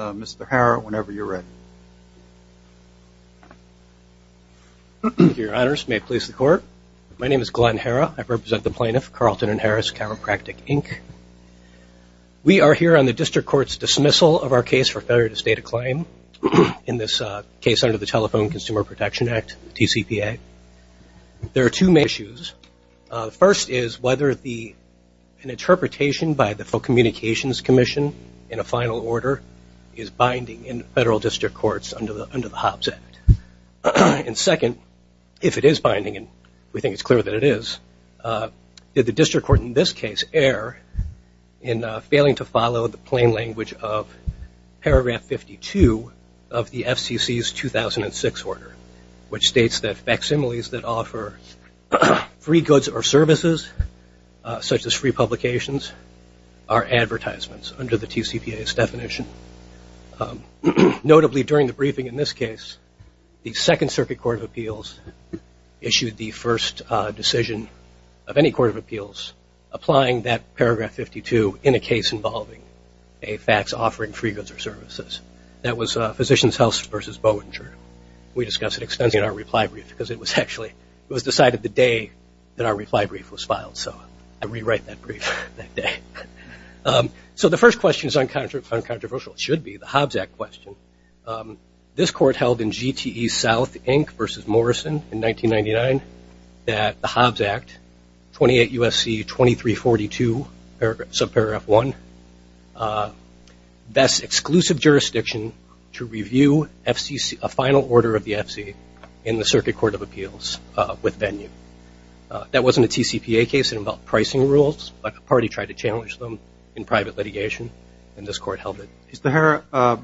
Mr. Harrah, whenever you are ready Your honors, may it please the court, my name is Glenn Harrah, I represent the plaintiff, Carleton & Harris Chiropractic, Inc. We are here on the District Court's dismissal of our case for failure to state a claim in this case under the Telephone Consumer Protection Act, the TCPA. There are two main issues. First is whether an interpretation by the Communications Commission in a final order is binding in Federal District Courts under the Hobbs Act. And second, if it is binding and we think it is clear that it is, did the District Court in this case err in failing to follow the plain language of paragraph 52 of the FCC's 2006 order, which states that facsimiles that offer free goods or services, such as free publications, are advertisements under the TCPA's definition. Notably, during the briefing in this case, the Second Circuit Court of Appeals issued the first decision of any Court of Appeals applying that paragraph 52 in a case involving a fax offering free goods or services. That was Physicians House v. Bowdinger. We discussed it extensively in our reply brief because it was decided the day that our reply brief was filed. So I rewrite that brief that day. So the first question is uncontroversial. It should be the Hobbs Act question. This Court held in GTE South, Inc. v. Morrison in 1999 that the Hobbs Act, 28 U.S.C. 2342 subparagraph 1, vests exclusive jurisdiction to review FCC, a final order of the FCC, in the Circuit Court of Appeals with venue. That wasn't a TCPA case. It involved pricing rules, but a party tried to challenge them in private litigation, and this Court held it. Mr. Herr,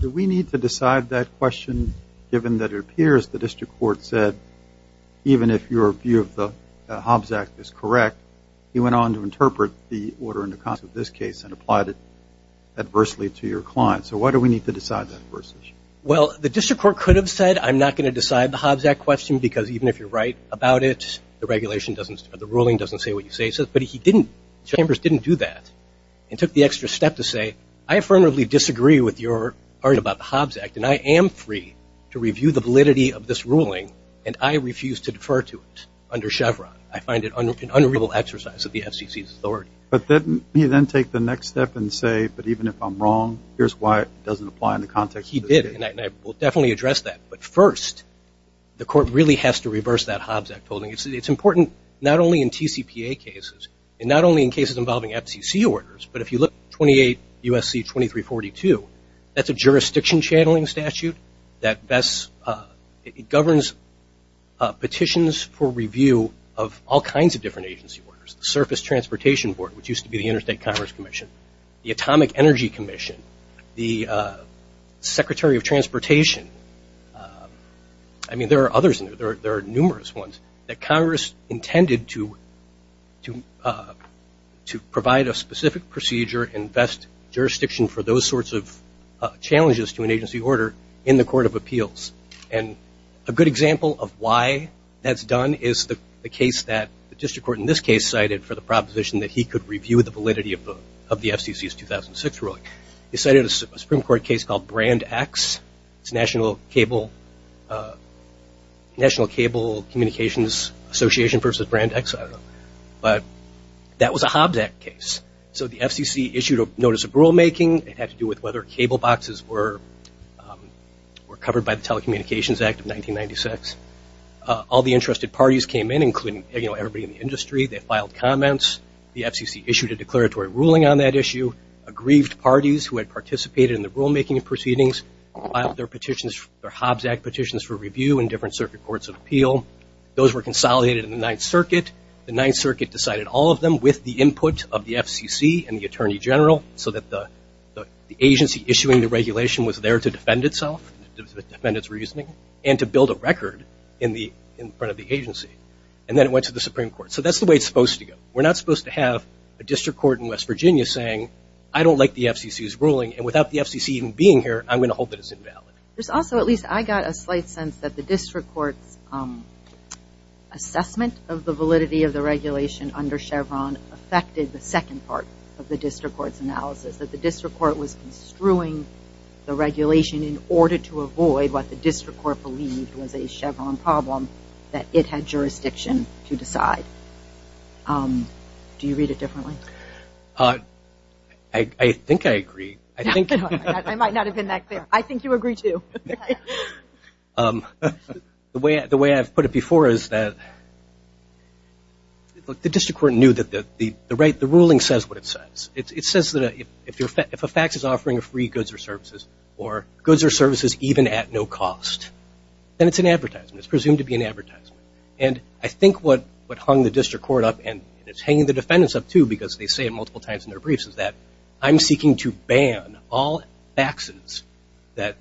do we need to decide that question given that it appears the District Court said even if your view of the Hobbs Act is correct, you went on to interpret the order in the context of this case and applied it adversely to your client. So why do we need to decide that? Well, the District Court could have said, I'm not going to decide the Hobbs Act question because even if you're right about it, the regulation doesn't, or the ruling doesn't say what you say. But he didn't. Chambers didn't do that and took the extra step to say, I affirmatively disagree with your part about the Hobbs Act, and I am free to review the validity of this ruling, and I refuse to defer to it under Chevron. I find it an unreasonable exercise of the FCC's authority. But didn't he then take the next step and say, but even if I'm wrong, here's why it doesn't apply in the context of this case? He did, and I will definitely address that. But first, the Court really has to reverse that Hobbs Act holding. It's important not only in TCPA cases, and not only in cases involving FCC orders, but if you look at 28 U.S.C. 2342, that's a jurisdiction channeling statute that best, it governs petitions for review of all kinds of different agency orders. The Surface Transportation Board, which used to be the Interstate Commerce Commission. The Atomic Energy Commission. The Secretary of Transportation. I mean, there are others in there. There are numerous ones that Congress intended to provide a specific procedure and invest jurisdiction for those sorts of challenges to an agency order in the Court of Appeals. And a good example of why that's done is the case that the District Court in this case cited for the proposition that he could review the validity of the FCC's 2006 ruling. They cited a Supreme Court case called Brand X. It's National Cable Communications Association versus Brand X, I don't know. But that was a Hobbs Act case. So the FCC issued a notice of rulemaking. It had to do with whether cable boxes were covered by the Telecommunications Act of 1996. All the interested parties came in, including everybody in the industry. They had parties who had participated in the rulemaking proceedings. Their Hobbs Act petitions for review in different circuit courts of appeal. Those were consolidated in the Ninth Circuit. The Ninth Circuit decided all of them with the input of the FCC and the Attorney General so that the agency issuing the regulation was there to defend itself, defend its reasoning, and to build a record in front of the agency. And then it went to the Supreme Court. So that's the way it's supposed to go. We're not supposed to have a District Court in West DC's ruling. And without the FCC even being here, I'm going to hold that it's invalid. There's also, at least I got a slight sense that the District Court's assessment of the validity of the regulation under Chevron affected the second part of the District Court's analysis. That the District Court was construing the regulation in order to avoid what the District Court believed was a Chevron problem that it had jurisdiction to decide. Do you read it differently? I think I agree. I might not have been that clear. I think you agree too. The way I've put it before is that the District Court knew that the ruling says what it says. It says that if a fax is offering free goods or services, or goods or services even at no cost, then it's an advertisement. It's presumed to be an advertisement. And I think what hung the District Court up, and it's hanging the defendants up too because they say it multiple times in their briefs, is that I'm seeking to ban all faxes that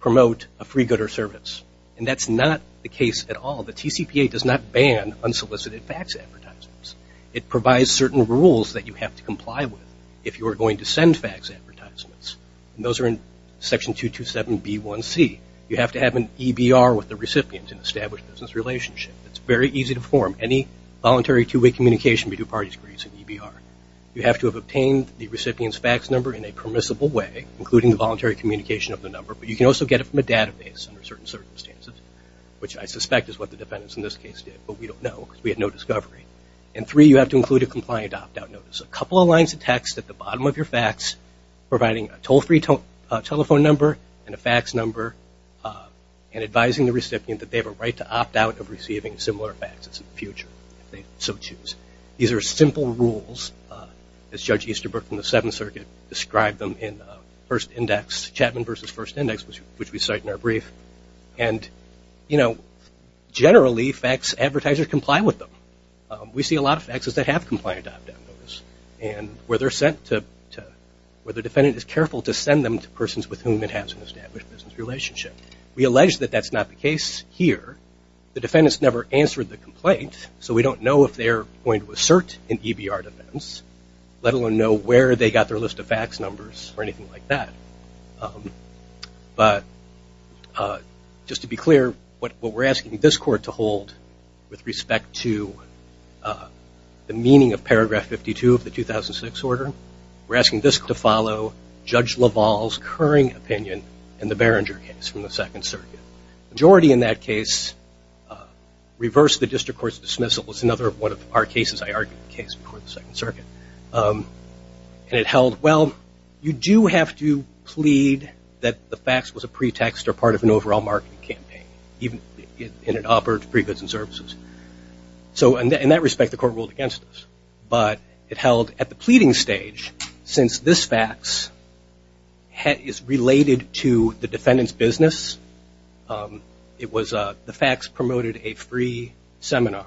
promote a free good or service. And that's not the case at all. The TCPA does not ban unsolicited fax advertisements. It provides certain rules that you have to comply with if you are going to send fax advertisements. And those are in Section 227B1C. You have to have an EBR with the recipient in an established business relationship. It's very easy to form any voluntary two-way communication between two parties agrees in EBR. You have to have obtained the recipient's fax number in a permissible way, including the voluntary communication of the number. But you can also get it from a database under certain circumstances, which I suspect is what the defendants in this case did. But we don't know because we had no discovery. And three, you have to include a compliant opt-out notice. A couple of lines of text at the bottom of your fax providing a toll-free telephone number and a fax number and advising the recipient that they have a right to opt out of receiving similar faxes in the future if they so choose. These are simple rules as Judge Easterbrook from the Seventh Circuit described them in Chapman v. First Index, which we cite in our brief. And generally fax advertisers comply with them. We see a lot of faxes that have compliant opt-out notices. And where they're sent to, where the defendant is careful to send them to persons with whom it has an established business relationship. We allege that that's not the case here. The defendants never answered the complaint, so we don't know if they're going to assert an EBR defense, let alone know where they got their list of fax numbers or anything like that. But just to be clear, what we're asking this court to hold with respect to the meaning of paragraph 52 of the 2006 order, we're asking this to follow Judge LaValle's current opinion in the Beringer case from the Second Circuit. Majority in that case reversed the district court's dismissal. It's another one of our cases, I argue, case before the Second Circuit. And it held, well, you do have to plead that the fax was a pretext or part of an overall marketing campaign, even in an operative for free goods and services. So in that respect, the court ruled against us. But it held at the pleading stage, since this fax is related to the defendant's business, the fax promoted a free seminar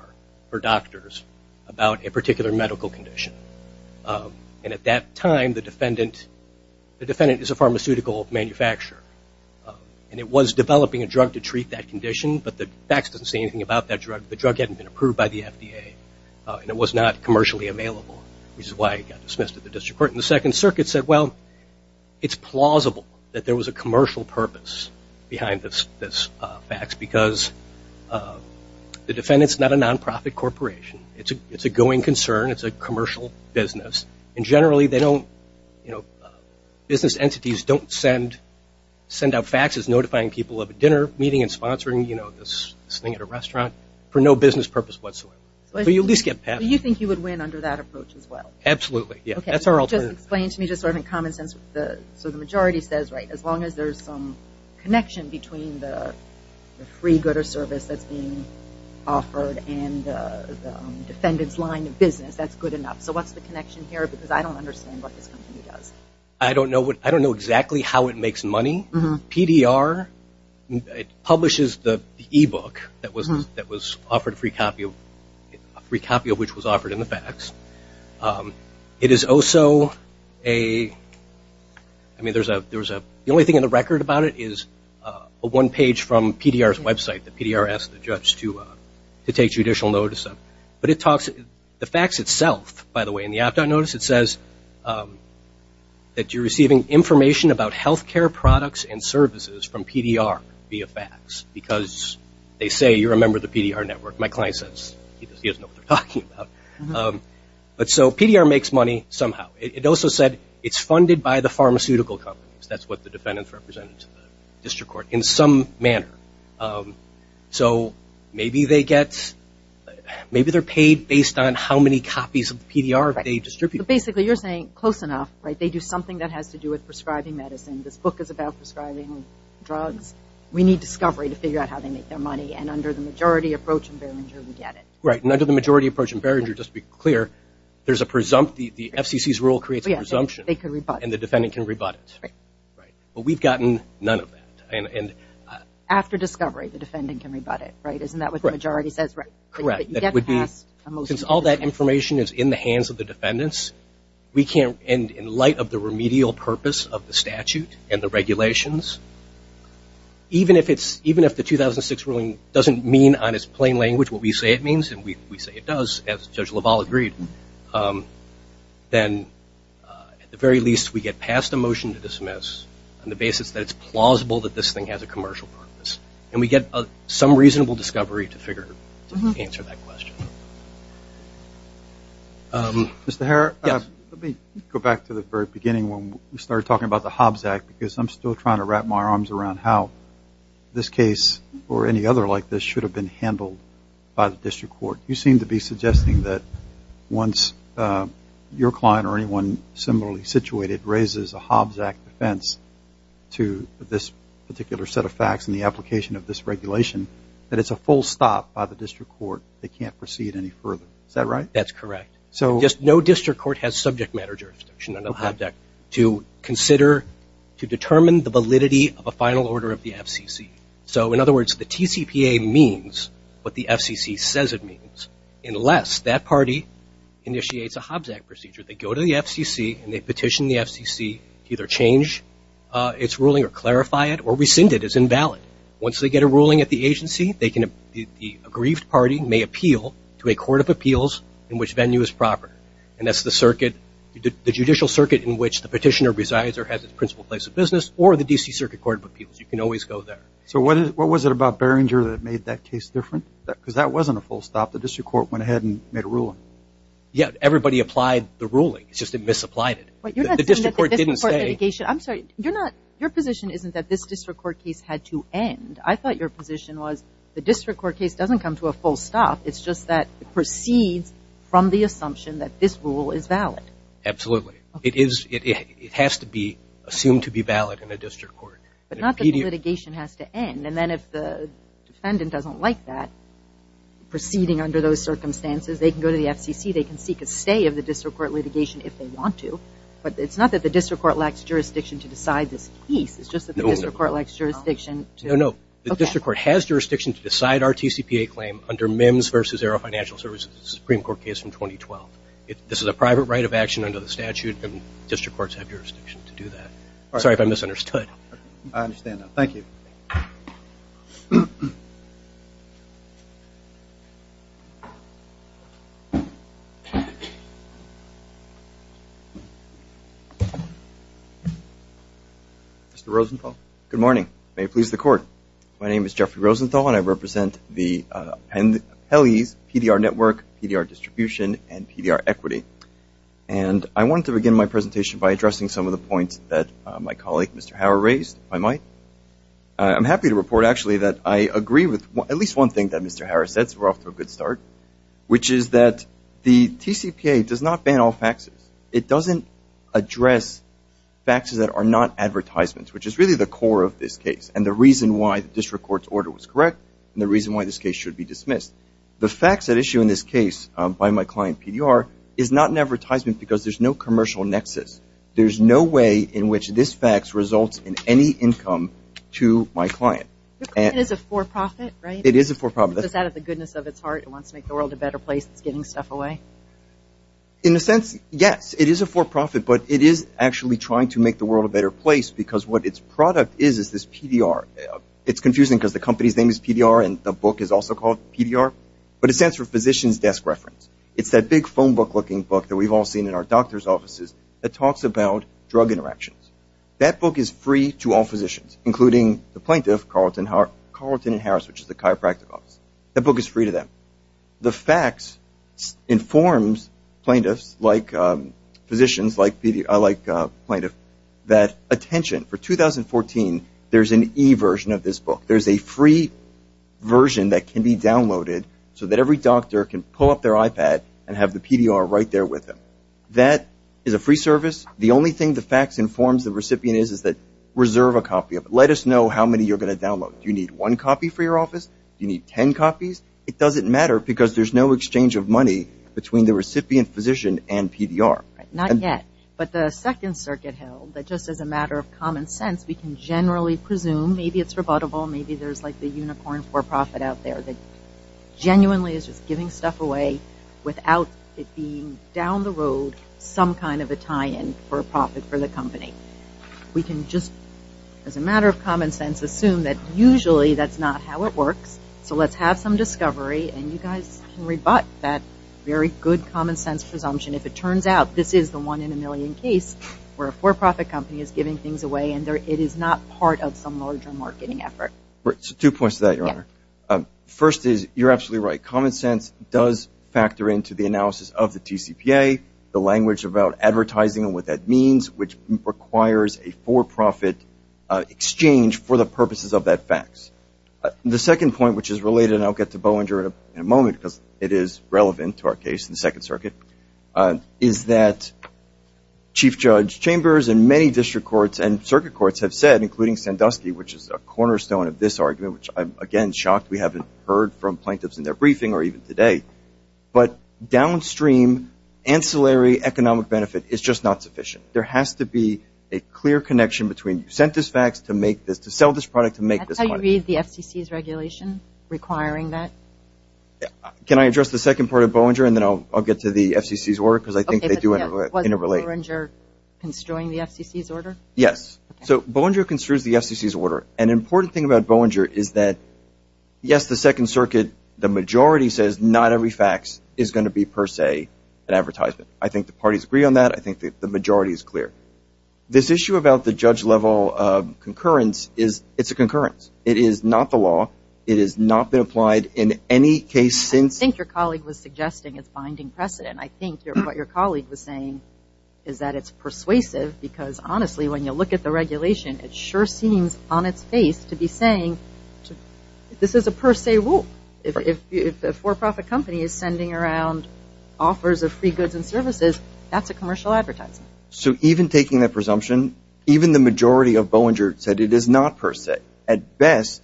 for doctors about a particular medical condition. And at that time, the defendant is a pharmaceutical manufacturer. And it was developing a drug to treat that condition, but the fax doesn't say anything about that drug. The drug hadn't been approved by the FDA. And it was not commercially available, which is why it got dismissed at the district court. And the Second Circuit said, well, it's plausible that there was a commercial purpose behind this fax, because the defendant's not a nonprofit corporation. It's a going concern. It's a commercial business. And generally, business entities don't send out faxes notifying people of a dinner meeting and sponsoring this thing at a restaurant, for no business purpose whatsoever. So you think you would win under that approach as well? Absolutely. That's our alternative. Just explain to me, in common sense, so the majority says, as long as there's some connection between the free good or service that's being offered and the defendant's line of business, that's good enough. So what's the connection here? Because I don't understand what this company does. I don't know exactly how it makes money. PDR publishes the e-book that was offered, a free copy of which was offered in the fax. The only thing in the record about it is one page from PDR's website that PDR asked the judge to take judicial notice of. But the fax itself, by the way, in the opt-out notice, it says that you're receiving information about health care products and services from PDR via fax. Because they say you're a member of the PDR network. My client says he doesn't know what they're talking about. But so PDR makes money somehow. It also said it's funded by the pharmaceutical companies. That's what the defendants represented to the district court in some manner. So maybe they get, maybe they're paid based on how many copies of the PDR they distribute. But basically you're saying close enough. They do something that has to do with prescribing medicine. This book is about prescribing drugs. We need discovery to figure out how they make their money. And under the majority approach in Behringer, we get it. Right. And under the majority approach in Behringer, just to be clear, there's a presumptive, the FCC's rule creates a presumption. They can rebut it. And the defendant can rebut it. Right. But we've gotten none of that. After discovery, the defendant can rebut it, right? Isn't that what the majority says? Correct. But you get past a motion to dismiss. Since all that information is in the hands of the defendants, we can't, in light of the remedial purpose of the statute and the regulations, even if the 2006 ruling doesn't mean on its plain language what we say it means, and we say it does, as Judge LaValle agreed, then at the very least we get past a motion to dismiss on the basis that it's plausible that this thing has a commercial purpose. And we get some reasonable discovery to figure, to answer that question. Mr. Herr, let me go back to the very beginning when we started talking about the Hobbs Act, because I'm still trying to wrap my arms around how this case or any other like this should have been handled by the district court. You seem to be suggesting that once your client or anyone similarly situated raises a Hobbs Act offense to this particular set of facts and the application of this regulation, that it's a full stop by the district court. They can't proceed any further. Is that right? That's correct. So no district court has subject matter jurisdiction under the Hobbs Act to consider, to determine the validity of a final order of the FCC. So in other words, the TCPA means what the FCC says it means, unless that party initiates a Hobbs Act procedure. They go to the FCC and they petition the FCC to either change its ruling or clarify it or rescind it as invalid. Once they get a ruling at the agency, the aggrieved party may appeal to a court of appeals in which venue is proper. And that's the circuit, the judicial circuit in which the petitioner resides or has its principal place of business or the DC Circuit Court of Appeals. You can always go there. So what was it about Beringer that made that case different? Because that wasn't a full stop. The district court went ahead and made a ruling. Yeah, everybody applied the ruling. It's just they misapplied it. But you're not saying that the district court's litigation... I'm sorry, you're not, your position isn't that this district court case had to end. I thought your position was the district court case doesn't come to a full stop. It's just that it proceeds from the assumption that this rule is valid. Absolutely. It has to be assumed to be valid in a district court. But not that the litigation has to end. And then if the defendant doesn't like that, proceeding under those circumstances, they can go to the FCC, they can seek a stay of the district court litigation if they want to. But it's not that the district court lacks jurisdiction to decide this case. It's just that the district court lacks jurisdiction to... No, no. The district court has jurisdiction to decide our TCPA claim under MIMS versus the Zero Financial Services Supreme Court case from 2012. This is a private right of action under the statute, and district courts have jurisdiction to do that. Sorry if I misunderstood. I understand that. Thank you. Mr. Rosenthal. Good morning. May it please the Court. My name is Jeffrey Rosenthal, and I represent the appellees, PDR Network, PDR Distribution, and PDR Equity. And I wanted to begin my presentation by addressing some of the points that my colleague, Mr. Hauer, raised, if I might. I'm happy to report, actually, that I agree with at least one thing that Mr. Hauer said, so we're off to a good start, which is that the TCPA does not ban all faxes. It doesn't address faxes that are not advertisements, which is really the core of this case. And the reason why the district court's order was correct, and the reason why this case should be dismissed. The fax at issue in this case by my client, PDR, is not an advertisement because there's no commercial nexus. There's no way in which this fax results in any income to my client. Your client is a for-profit, right? It is a for-profit. That's out of the goodness of its heart. It wants to make the world a better place. It's giving stuff away. In a sense, yes, it is a for-profit, but it is actually trying to make the world a better place because what its product is is this PDR. It's confusing because the company's name is PDR and the book is also called PDR, but it stands for Physician's Desk Reference. It's that big phone book-looking book that we've all seen in our doctor's offices that talks about drug interactions. That book is free to all physicians, including the plaintiff, Carlton and Harris, which is the chiropractic office. That book is free to them. The fax informs plaintiffs, like physicians, like plaintiffs, that attention. For 2014, there's an e-version of this book. There's a free version that can be downloaded so that every doctor can pull up their iPad and have the PDR right there with them. That is a free service. The only thing the fax informs the recipient is that reserve a copy of it. Let us know how many you're going to download. Do you need one copy for your office? Do you need 10 copies? It doesn't matter because there's no exchange of money between the recipient physician and PDR. Not yet, but the Second Circuit held that just as a matter of common sense, we can generally presume, maybe it's rebuttable, maybe there's like the unicorn for-profit out there that genuinely is just giving stuff away without it being down the road some kind of a tie-in for a profit for the company. We can just, as a matter of common sense, assume that usually that's not how it works, so let's have some discovery and you guys can rebut that very good common sense presumption. If it turns out this is the one in a million case where a for-profit company is giving things away and it is not part of some larger marketing effort. Two points to that, Your Honor. First is you're absolutely right. Common sense does factor into the analysis of the TCPA, the language about advertising and what that means, which requires a for-profit exchange for the purposes of that fax. The second point, which is related, and I'll get to Bollinger in a moment, because it is relevant to our case in the Second Circuit, is that Chief Judge Chambers and many district courts and circuit courts have said, including Sandusky, which is a cornerstone of this argument, which I'm again shocked we haven't heard from plaintiffs in their briefing or even today, but downstream ancillary economic benefit is just not sufficient. There has to be a clear connection between you sent this fax to make this, to sell this product, to make this quantity. That's how you read the FCC's regulation, requiring that? Can I address the second part of Bollinger and then I'll get to the FCC's order because I think they do interrelate. Okay, but wasn't Bollinger construing the FCC's order? Yes. So Bollinger construes the FCC's order. An important thing about Bollinger is that, yes, the Second Circuit, the majority says not every fax is going to be per se an advertisement. I think the parties agree on that. I think the majority is clear. This issue about the judge-level concurrence, it's a concurrence. It is not the law. It has not been applied in any case since. I think your colleague was suggesting it's binding precedent. I think what your colleague was saying is that it's persuasive because, honestly, when you look at the regulation, it sure seems on its face to be saying this is a per se rule. If a for-profit company is sending around offers of free goods and services, that's a commercial advertisement. So even taking that presumption, even the majority of Bollinger said it is not per se. At best,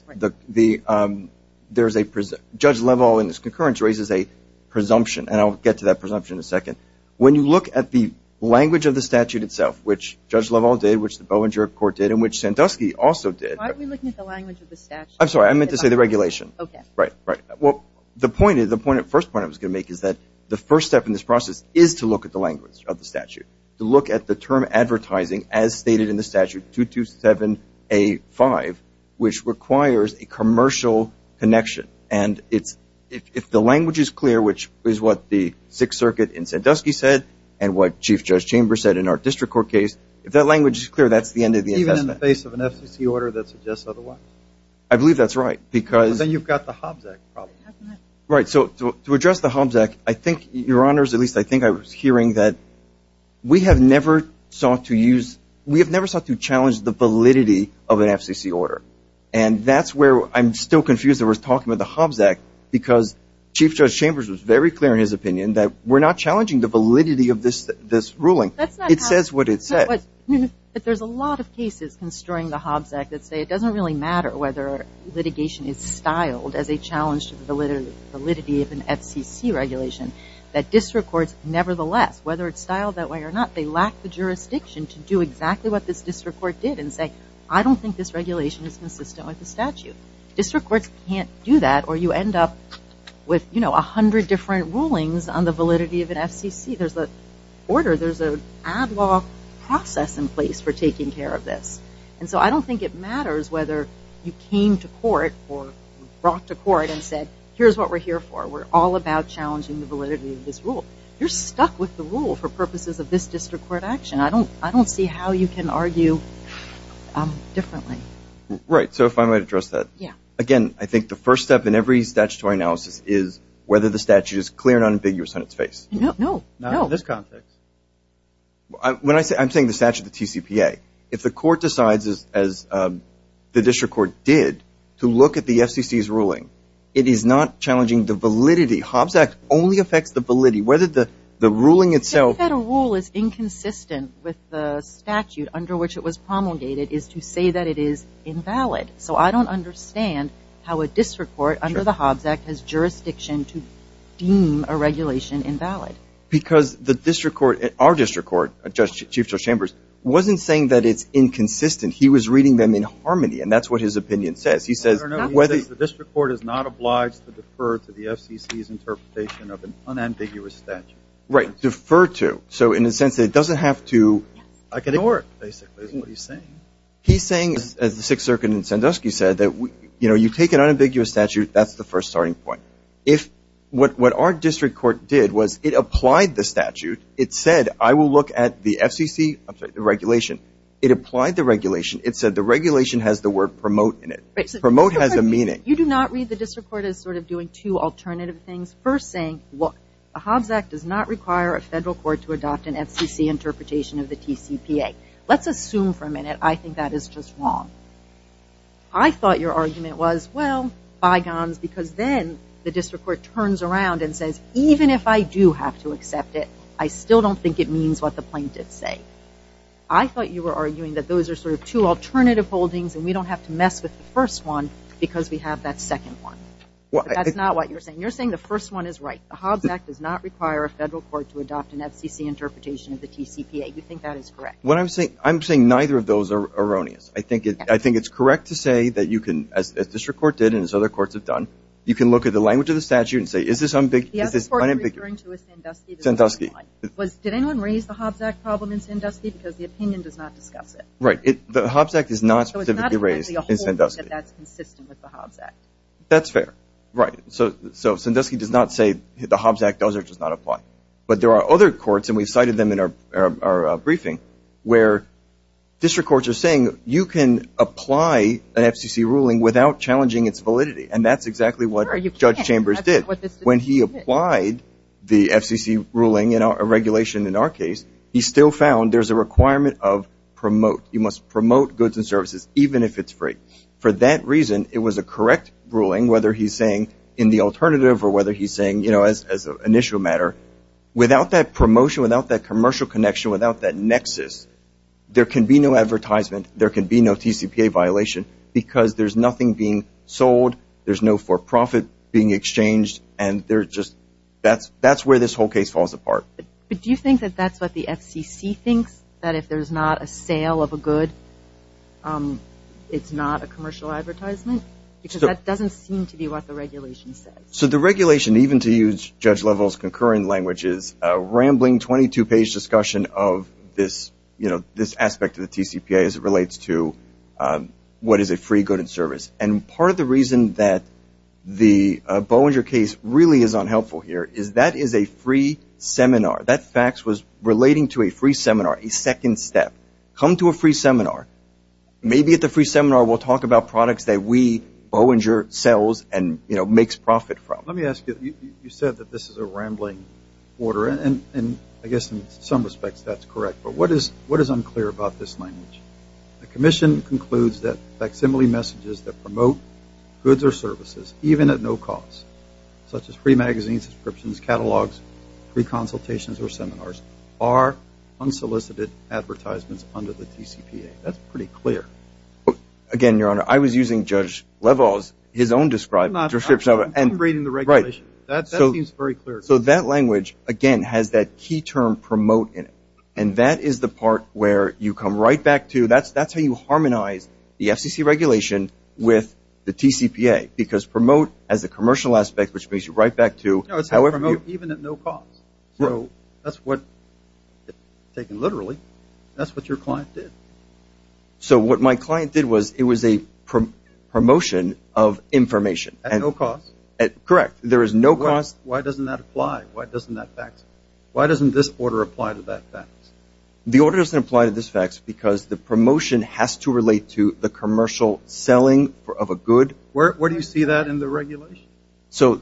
there's a judge-level and this concurrence raises a presumption, and I'll get to that presumption in a second. When you look at the language of the statute itself, which Judge Lovell did, which the Bollinger court did, and which Sandusky also did. Why are we looking at the language of the statute? I'm sorry. I meant to say the regulation. Okay. Right, right. Well, the first point I was going to make is that the first step in this process is to look at the language of the statute. To look at the term advertising as stated in the statute, 227A5, which requires a commercial connection. And if the language is clear, which is what the Sixth Circuit in Sandusky said and what Chief Judge Chamber said in our district court case, if that language is clear, that's the end of the investment. Even in the face of an FCC order that suggests otherwise? I believe that's right. Then you've got the Hobbs Act problem. Right. So to address the Hobbs Act, I think, Your Honors, at least I think I was hearing that we have never sought to use – we have never sought to challenge the validity of an FCC order. And that's where I'm still confused that we're talking about the Hobbs Act because Chief Judge Chambers was very clear in his opinion that we're not challenging the validity of this ruling. It says what it says. But there's a lot of cases construing the Hobbs Act that say it doesn't really matter whether litigation is styled as a challenge to the validity of an FCC regulation. That district courts, nevertheless, whether it's styled that way or not, they lack the jurisdiction to do exactly what this district court did and say, I don't think this regulation is consistent with the statute. District courts can't do that or you end up with, you know, a hundred different rulings on the validity of an FCC. There's the order. There's an ad hoc process in place for taking care of this. And so I don't think it matters whether you came to court or brought to court and said, here's what we're here for. We're all about challenging the validity of this rule. You're stuck with the rule for purposes of this district court action. I don't see how you can argue differently. Right. So if I might address that. Yeah. Again, I think the first step in every statutory analysis is whether the statute is clear and unambiguous on its face. No. Not in this context. When I say – I'm saying the statute of the TCPA. If the court decides, as the district court did, to look at the FCC's ruling, it is not challenging the validity. Hobbs Act only affects the validity. Whether the ruling itself – The federal rule is inconsistent with the statute under which it was promulgated is to say that it is invalid. So I don't understand how a district court under the Hobbs Act has jurisdiction to deem a regulation invalid. Because the district court – our district court, Chief Judge Chambers, wasn't saying that it's inconsistent. He was reading them in harmony, and that's what his opinion says. He says – No, no, no. He says the district court is not obliged to defer to the FCC's interpretation of an unambiguous statute. Right. Defer to. So in a sense, it doesn't have to – Yes. I can ignore it, basically, is what he's saying. He's saying, as the Sixth Circuit and Sandusky said, that, you know, you take an unambiguous statute, that's the first starting point. What our district court did was it applied the statute. It said, I will look at the FCC – I'm sorry, the regulation. It applied the regulation. It said the regulation has the word promote in it. Promote has a meaning. You do not read the district court as sort of doing two alternative things. First saying, look, the Hobbs Act does not require a federal court to adopt an FCC interpretation of the TCPA. Let's assume for a minute I think that is just wrong. I thought your argument was, well, bygones, because then the district court turns around and says, even if I do have to accept it, I still don't think it means what the plaintiffs say. I thought you were arguing that those are sort of two alternative holdings, and we don't have to mess with the first one because we have that second one. But that's not what you're saying. You're saying the first one is right. The Hobbs Act does not require a federal court to adopt an FCC interpretation of the TCPA. You think that is correct? What I'm saying – I'm saying neither of those are erroneous. I think it's correct to say that you can, as district court did and as other courts have done, you can look at the language of the statute and say, is this unambiguous? The other part you're referring to is Sandusky. Sandusky. Did anyone raise the Hobbs Act problem in Sandusky? Because the opinion does not discuss it. The Hobbs Act is not specifically raised in Sandusky. So it's not that that's consistent with the Hobbs Act. That's fair. Right. So Sandusky does not say the Hobbs Act does or does not apply. But there are other courts, and we cited them in our briefing, where district courts are saying you can apply an FCC ruling without challenging its validity. And that's exactly what Judge Chambers did. Sure, you can. When he applied the FCC ruling, a regulation in our case, he still found there's a requirement of promote. You must promote goods and services, even if it's free. For that reason, it was a correct ruling, whether he's saying in the alternative or whether he's saying, you know, as an initial matter, without that promotion, without that commercial connection, without that nexus, there can be no advertisement, there can be no TCPA violation because there's nothing being sold, there's no for-profit being exchanged, and they're just – that's where this whole case falls apart. But do you think that that's what the FCC thinks, that if there's not a sale of a good, it's not a commercial advertisement? Because that doesn't seem to be what the regulation says. So the regulation, even to use Judge Lovell's concurrent language, is a rambling 22-page discussion of this aspect of the TCPA as it relates to what is a free good and service. And part of the reason that the Bollinger case really is unhelpful here is that is a free seminar. That fax was relating to a free seminar, a second step. Come to a free seminar. Maybe at the free seminar we'll talk about products that we, Bollinger, sells and, you know, makes profit from. Let me ask you, you said that this is a rambling order, and I guess in some respects that's correct. But what is unclear about this language? The commission concludes that facsimile messages that promote goods or services, even at no cost, such as free magazines, descriptions, catalogs, free consultations or seminars, are unsolicited advertisements under the TCPA. That's pretty clear. Again, Your Honor, I was using Judge Lovell's, his own description of it. I'm reading the regulation. Right. That seems very clear to me. So that language, again, has that key term promote in it. And that is the part where you come right back to. That's how you harmonize the FCC regulation with the TCPA, because promote has a commercial aspect, which brings you right back to however you. No, it's promote even at no cost. So that's what, taken literally, that's what your client did. So what my client did was it was a promotion of information. At no cost. Correct. There is no cost. Why doesn't that apply? Why doesn't that fax? Why doesn't this order apply to that fax? The order doesn't apply to this fax because the promotion has to relate to the commercial selling of a good. Where do you see that in the regulation? So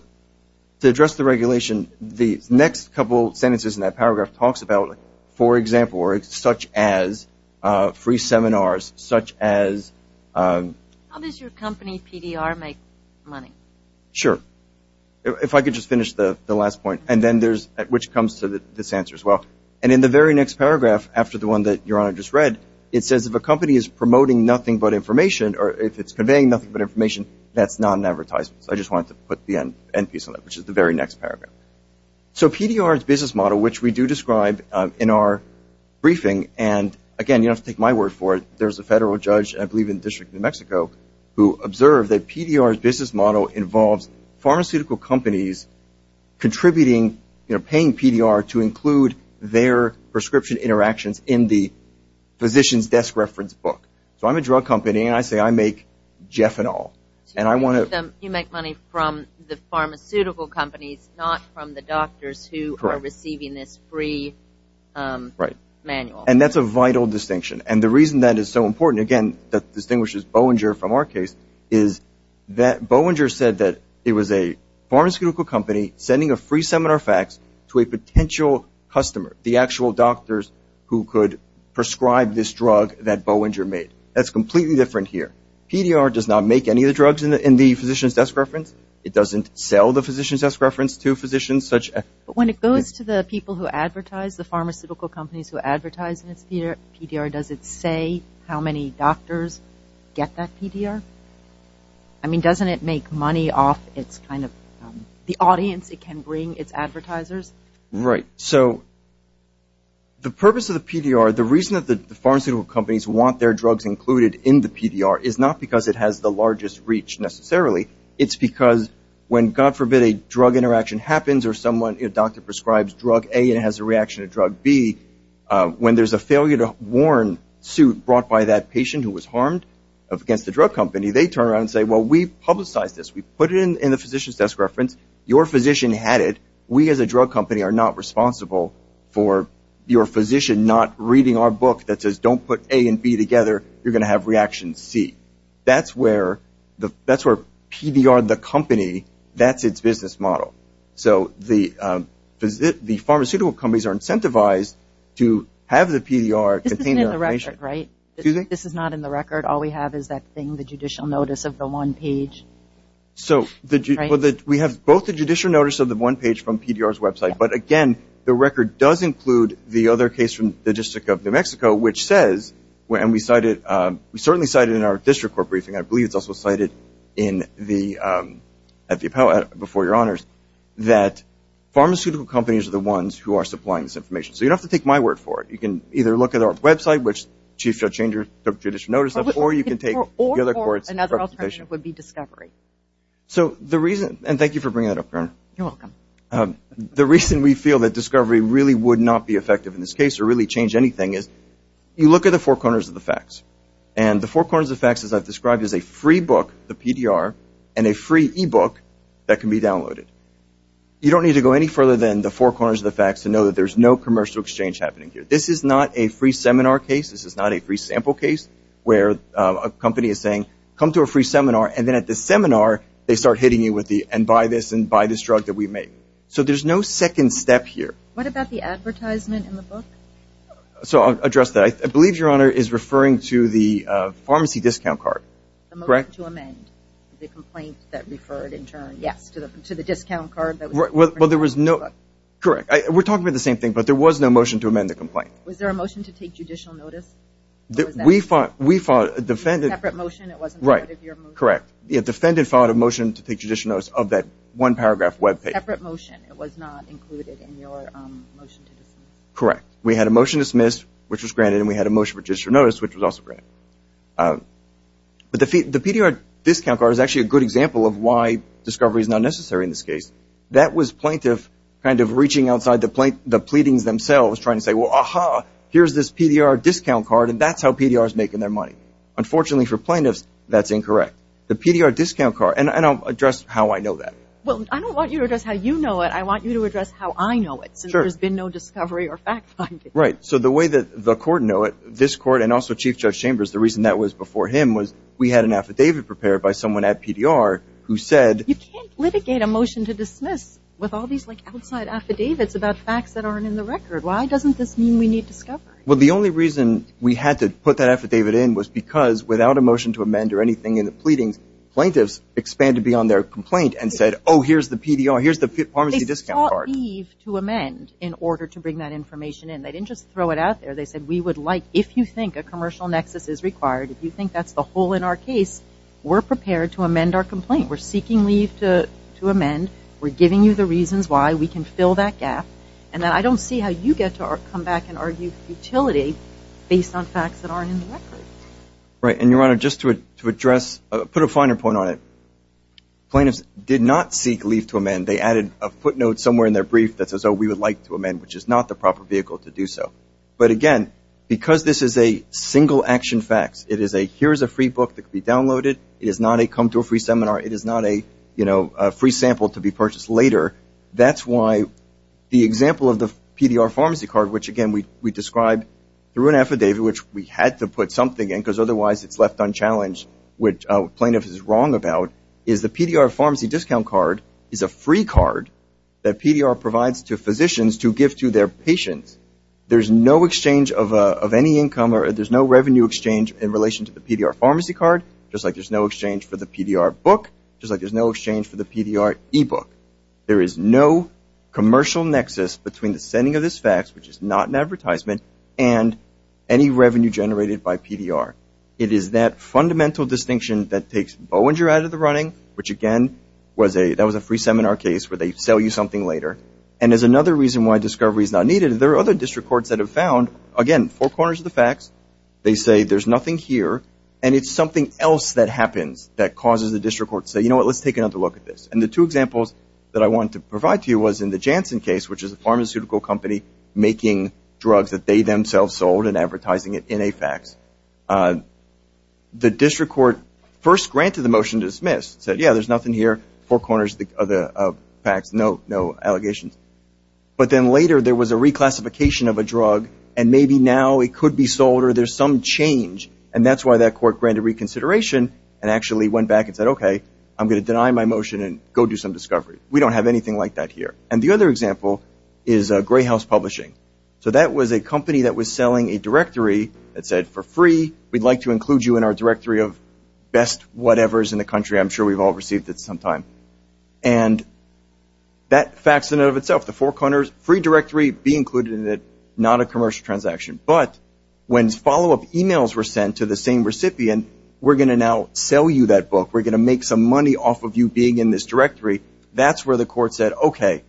to address the regulation, the next couple sentences in that paragraph talks about, for example, or such as free seminars, such as. How does your company, PDR, make money? Sure. If I could just finish the last point, and then there's, which comes to this answer as well. And in the very next paragraph, after the one that Your Honor just read, it says if a company is promoting nothing but information, or if it's conveying nothing but information, that's not an advertisement. So I just wanted to put the end piece on that, which is the very next paragraph. So PDR's business model, which we do describe in our briefing. And, again, you don't have to take my word for it. There's a federal judge, I believe in the District of New Mexico, who observed that PDR's business model involves pharmaceutical companies contributing, paying PDR to include their prescription interactions in the physician's desk reference book. So I'm a drug company, and I say I make Jeffanol. You make money from the pharmaceutical companies, not from the doctors who are receiving this free manual. And that's a vital distinction. And the reason that is so important, again, that distinguishes Bollinger from our case, is that Bollinger said that it was a pharmaceutical company sending a free seminar fax to a potential customer, the actual doctors who could prescribe this drug that Bollinger made. That's completely different here. PDR does not make any of the drugs in the physician's desk reference. It doesn't sell the physician's desk reference to physicians. But when it goes to the people who advertise, the pharmaceutical companies who advertise in its PDR, does it say how many doctors get that PDR? I mean, doesn't it make money off the audience it can bring, its advertisers? Right. So the purpose of the PDR, the reason that the pharmaceutical companies want their drugs included in the PDR, is not because it has the largest reach necessarily. It's because when, God forbid, a drug interaction happens, or someone, a doctor prescribes drug A and has a reaction to drug B, when there's a failure to warn suit brought by that patient who was harmed against the drug company, they turn around and say, well, we've publicized this. We put it in the physician's desk reference. Your physician had it. We as a drug company are not responsible for your physician not reading our book that says don't put A and B together. You're going to have reaction C. That's where PDR, the company, that's its business model. So the pharmaceutical companies are incentivized to have the PDR contained in the patient. This isn't in the record, right? This is not in the record. All we have is that thing, the judicial notice of the one page. So we have both the judicial notice of the one page from PDR's website, but, again, the record does include the other case from the District of New Mexico, which says, and we cited, we certainly cited in our district court briefing, I believe it's also cited at the appellate before your honors, that pharmaceutical companies are the ones who are supplying this information. So you don't have to take my word for it. You can either look at our website, which Chief Judge Changer took judicial notice of, or you can take the other court's reputation. Or another alternative would be Discovery. So the reason, and thank you for bringing that up, Corinna. You're welcome. The reason we feel that Discovery really would not be effective in this case or really change anything is you look at the four corners of the facts, and the four corners of the facts, as I've described, is a free book, the PDR, and a free e-book that can be downloaded. You don't need to go any further than the four corners of the facts to know that there's no commercial exchange happening here. This is not a free seminar case. This is not a free sample case where a company is saying, come to a free seminar, and then at the seminar they start hitting you with the, and buy this, and buy this drug that we make. So there's no second step here. What about the advertisement in the book? So I'll address that. I believe your honor is referring to the pharmacy discount card. Correct? The motion to amend the complaint that referred in turn, yes, to the discount card. Well, there was no, correct. We're talking about the same thing, but there was no motion to amend the complaint. Was there a motion to take judicial notice? We fought, defended. It was a separate motion. It wasn't part of your motion. Correct. The defendant fought a motion to take judicial notice of that one-paragraph web page. It was a separate motion. It was not included in your motion to dismiss. Correct. We had a motion dismissed, which was granted, and we had a motion for judicial notice, which was also granted. But the PDR discount card is actually a good example of why discovery is not necessary in this case. That was plaintiff kind of reaching outside the pleadings themselves, and that was trying to say, well, aha, here's this PDR discount card, and that's how PDR is making their money. Unfortunately for plaintiffs, that's incorrect. The PDR discount card, and I'll address how I know that. Well, I don't want you to address how you know it. I want you to address how I know it, since there's been no discovery or fact-finding. Right. So the way that the court knew it, this court and also Chief Judge Chambers, the reason that was before him was we had an affidavit prepared by someone at PDR who said... You can't litigate a motion to dismiss with all these, like, affidavits about facts that aren't in the record. Why doesn't this mean we need discovery? Well, the only reason we had to put that affidavit in was because without a motion to amend or anything in the pleadings, plaintiffs expanded beyond their complaint and said, oh, here's the PDR, here's the pharmacy discount card. They sought leave to amend in order to bring that information in. They didn't just throw it out there. They said we would like, if you think a commercial nexus is required, if you think that's the hole in our case, we're prepared to amend our complaint. We're seeking leave to amend. We're giving you the reasons why we can fill that gap. And I don't see how you get to come back and argue futility based on facts that aren't in the record. Right. And, Your Honor, just to address, put a finer point on it. Plaintiffs did not seek leave to amend. They added a footnote somewhere in their brief that says, oh, we would like to amend, which is not the proper vehicle to do so. But, again, because this is a single-action fax, it is a here's a free book that can be downloaded. It is not a come to a free seminar. It is not a free sample to be purchased later. That's why the example of the PDR pharmacy card, which, again, we described through an affidavit, which we had to put something in because otherwise it's left unchallenged, which plaintiffs is wrong about, is the PDR pharmacy discount card is a free card that PDR provides to physicians to give to their patients. There's no exchange of any income or there's no revenue exchange in relation to the PDR pharmacy card, just like there's no exchange for the PDR book, just like there's no exchange for the PDR e-book. There is no commercial nexus between the sending of this fax, which is not an advertisement, and any revenue generated by PDR. It is that fundamental distinction that takes Boeinger out of the running, which, again, that was a free seminar case where they sell you something later. And there's another reason why discovery is not needed. There are other district courts that have found, again, four corners of the fax. They say there's nothing here, and it's something else that happens that causes the district court to say, you know what, let's take another look at this. And the two examples that I wanted to provide to you was in the Janssen case, which is a pharmaceutical company making drugs that they themselves sold and advertising it in a fax. The district court first granted the motion to dismiss, said, yeah, there's nothing here, four corners of the fax, no allegations. But then later there was a reclassification of a drug, and maybe now it could be sold or there's some change, and that's why that court granted reconsideration and actually went back and said, okay, I'm going to deny my motion and go do some discovery. We don't have anything like that here. And the other example is Greyhouse Publishing. So that was a company that was selling a directory that said, for free, we'd like to include you in our directory of best whatevers in the country. I'm sure we've all received it sometime. And that fax in and of itself, the four corners, free directory, be included in it, not a commercial transaction. But when follow-up e-mails were sent to the same recipient, we're going to now sell you that book. We're going to make some money off of you being in this directory. That's where the court said, okay,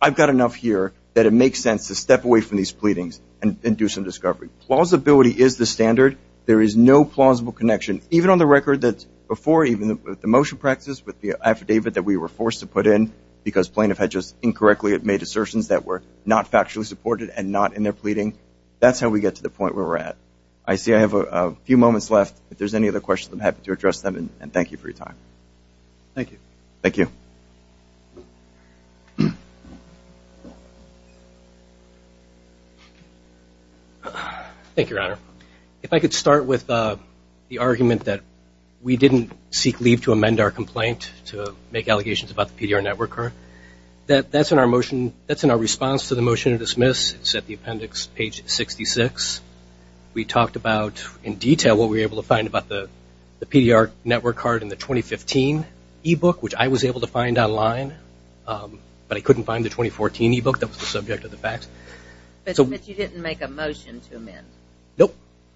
I've got enough here that it makes sense to step away from these pleadings and do some discovery. Plausibility is the standard. There is no plausible connection. Even on the record that before even the motion practice with the affidavit that we were forced to put in because plaintiff had just incorrectly made assertions that were not factually supported and not in their pleading, that's how we get to the point where we're at. I see I have a few moments left. If there's any other questions, I'm happy to address them. And thank you for your time. Thank you. Thank you. Thank you, Your Honor. If I could start with the argument that we didn't seek leave to amend our complaint to make allegations about the PDR network card. That's in our response to the motion to dismiss. It's at the appendix, page 66. We talked about in detail what we were able to find about the PDR network card in the 2015 e-book, which I was able to find online, but I couldn't find the 2014 e-book. That was the subject of the fact. But you didn't make a motion to amend. Nope.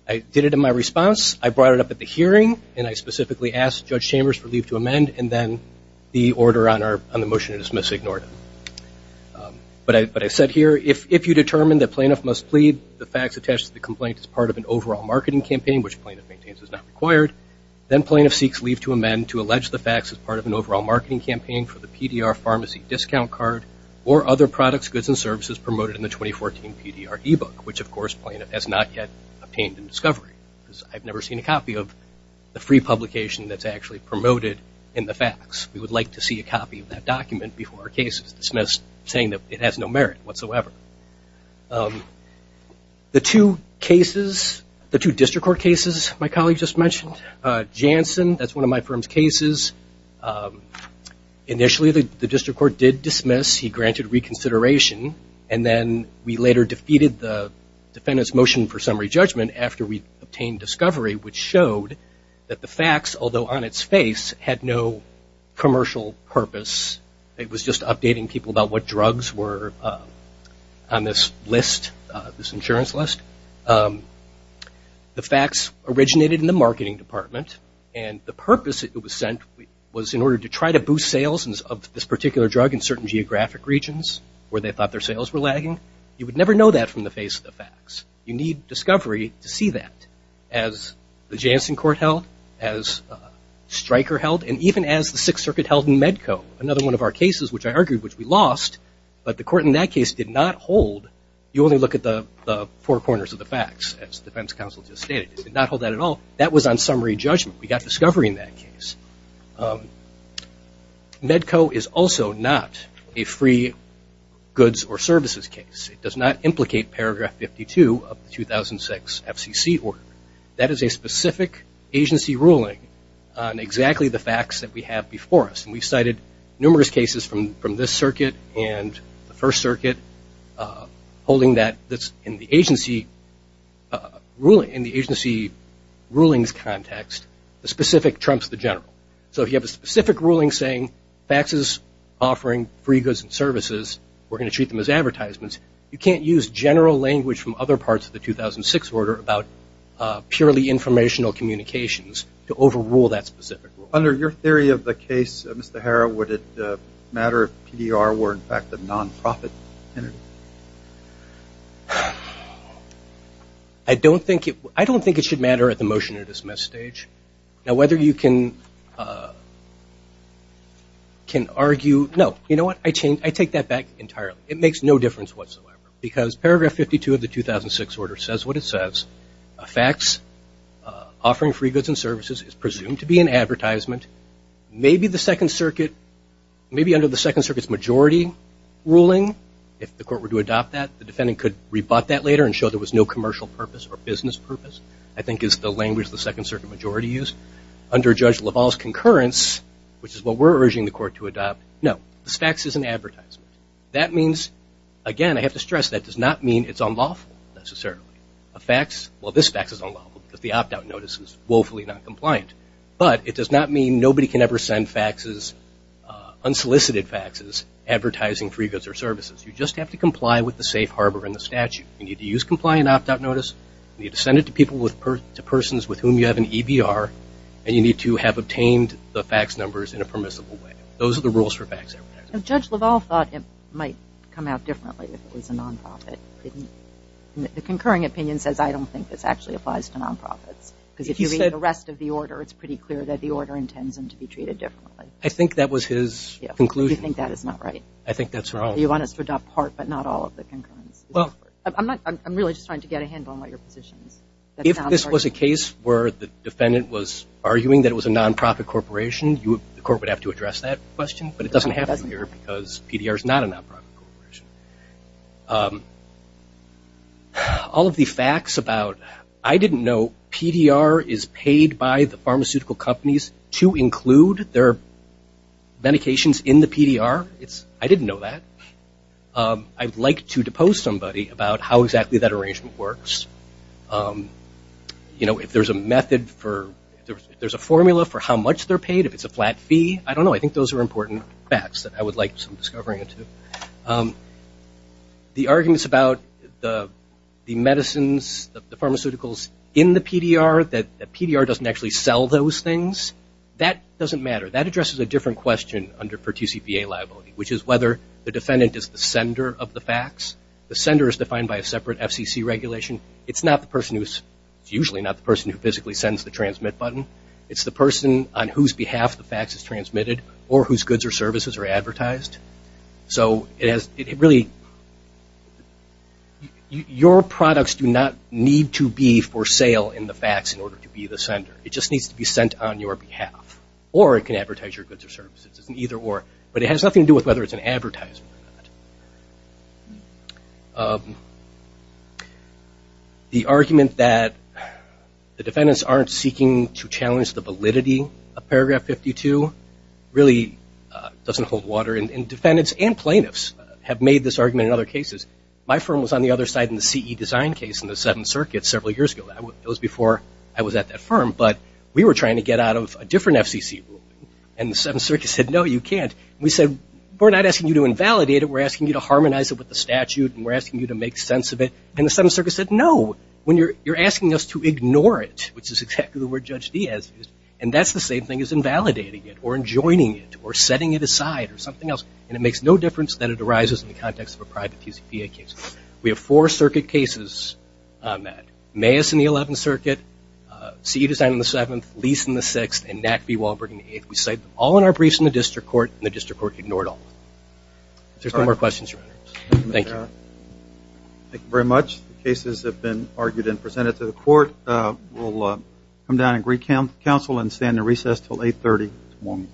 I did it in my response. I brought it up at the hearing, and I specifically asked Judge Chambers for leave to amend, and then the order on the motion to dismiss ignored it. But I said here, if you determine that plaintiff must plead the facts attached to the complaint as part of an overall marketing campaign, which plaintiff maintains is not required, then plaintiff seeks leave to amend to allege the facts as part of an overall marketing campaign for the PDR pharmacy discount card or other products, goods, and services promoted in the 2014 PDR e-book, which, of course, plaintiff has not yet obtained in discovery. I've never seen a copy of the free publication that's actually promoted in the facts. We would like to see a copy of that document before our case is dismissed, saying that it has no merit whatsoever. The two cases, the two district court cases my colleague just mentioned, Janssen, that's one of my firm's cases, initially the district court did dismiss. He granted reconsideration. And then we later defeated the defendant's motion for summary judgment after we obtained discovery, which showed that the facts, although on its face, had no commercial purpose. It was just updating people about what drugs were on this list, this insurance list. The facts originated in the marketing department, and the purpose it was sent was in order to try to boost sales of this particular drug in certain geographic regions where they thought their sales were lagging. You would never know that from the face of the facts. You need discovery to see that. As the Janssen court held, as Stryker held, and even as the Sixth Circuit held in Medco, another one of our cases which I argued which we lost, but the court in that case did not hold. You only look at the four corners of the facts, as the defense counsel just stated. It did not hold that at all. That was on summary judgment. We got discovery in that case. Medco is also not a free goods or services case. It does not implicate paragraph 52 of the 2006 FCC order. That is a specific agency ruling on exactly the facts that we have before us. We cited numerous cases from this circuit and the First Circuit holding that. In the agency rulings context, the specific trumps the general. So if you have a specific ruling saying facts is offering free goods and services, we're going to treat them as advertisements, you can't use general language from other parts of the 2006 order about purely informational communications to overrule that specific rule. Under your theory of the case, Mr. Harrow, would it matter if PDR were, in fact, a nonprofit entity? I don't think it should matter at the motion to dismiss stage. Now, whether you can argue, no. You know what, I take that back entirely. It makes no difference whatsoever because paragraph 52 of the 2006 order says what it says. A facts offering free goods and services is presumed to be an advertisement. Maybe the Second Circuit, maybe under the Second Circuit's majority ruling, if the court were to adopt that, the defendant could rebut that later and show there was no commercial purpose or business purpose, I think is the language the Second Circuit majority used. Under Judge LaValle's concurrence, which is what we're urging the court to adopt, no. The facts is an advertisement. That means, again, I have to stress that does not mean it's unlawful necessarily. A facts, well, this facts is unlawful because the opt-out notice is woefully not compliant. But it does not mean nobody can ever send facts, unsolicited facts, advertising free goods or services. You just have to comply with the safe harbor and the statute. You need to use compliant opt-out notice. You need to send it to persons with whom you have an EBR. And you need to have obtained the facts numbers in a permissible way. Those are the rules for facts advertising. Judge LaValle thought it might come out differently if it was a non-profit. The concurring opinion says I don't think this actually applies to non-profits. Because if you read the rest of the order, it's pretty clear that the order intends them to be treated differently. I think that was his conclusion. You think that is not right? I think that's wrong. You want us to adopt part but not all of the concurrence? I'm really just trying to get a handle on what your position is. If this was a case where the defendant was arguing that it was a non-profit corporation, the court would have to address that question. But it doesn't happen here because PDR is not a non-profit corporation. All of the facts about I didn't know PDR is paid by the pharmaceutical companies to include their medications in the PDR. I didn't know that. I'd like to depose somebody about how exactly that arrangement works. If there's a method for, if there's a formula for how much they're paid, if it's a flat fee, I don't know. I think those are important facts that I would like some discovery into. The arguments about the medicines, the pharmaceuticals in the PDR, that PDR doesn't actually sell those things, that doesn't matter. That addresses a different question for TCPA liability, which is whether the defendant is the sender of the facts. The sender is defined by a separate FCC regulation. It's usually not the person who physically sends the transmit button. It's the person on whose behalf the facts is transmitted or whose goods or services are advertised. So it really, your products do not need to be for sale in the facts in order to be the sender. It just needs to be sent on your behalf. Or it can advertise your goods or services. It's an either or. But it has nothing to do with whether it's an advertisement or not. The argument that the defendants aren't seeking to challenge the validity of paragraph 52 really doesn't hold water. And defendants and plaintiffs have made this argument in other cases. My firm was on the other side in the CE design case in the Seventh Circuit several years ago. It was before I was at that firm. But we were trying to get out of a different FCC rule. And the Seventh Circuit said, no, you can't. We said, we're not asking you to invalidate it. We're asking you to harmonize it with the statute. And we're asking you to make sense of it. And the Seventh Circuit said, no, you're asking us to ignore it, which is exactly the word Judge Dee has used. And that's the same thing as invalidating it or enjoining it or setting it aside or something else. And it makes no difference that it arises in the context of a private TCPA case. We have four circuit cases, Matt. Mayus in the Eleventh Circuit, CE design in the Seventh, Lease in the Sixth, and Knack v. Wahlberg in the Eighth. We cite them all in our briefs in the district court, and the district court ignored all of them. If there's no more questions, your Honor. Thank you. Thank you very much. The cases have been argued and presented to the court. We'll come down and greet counsel and stand in recess until 830 tomorrow morning.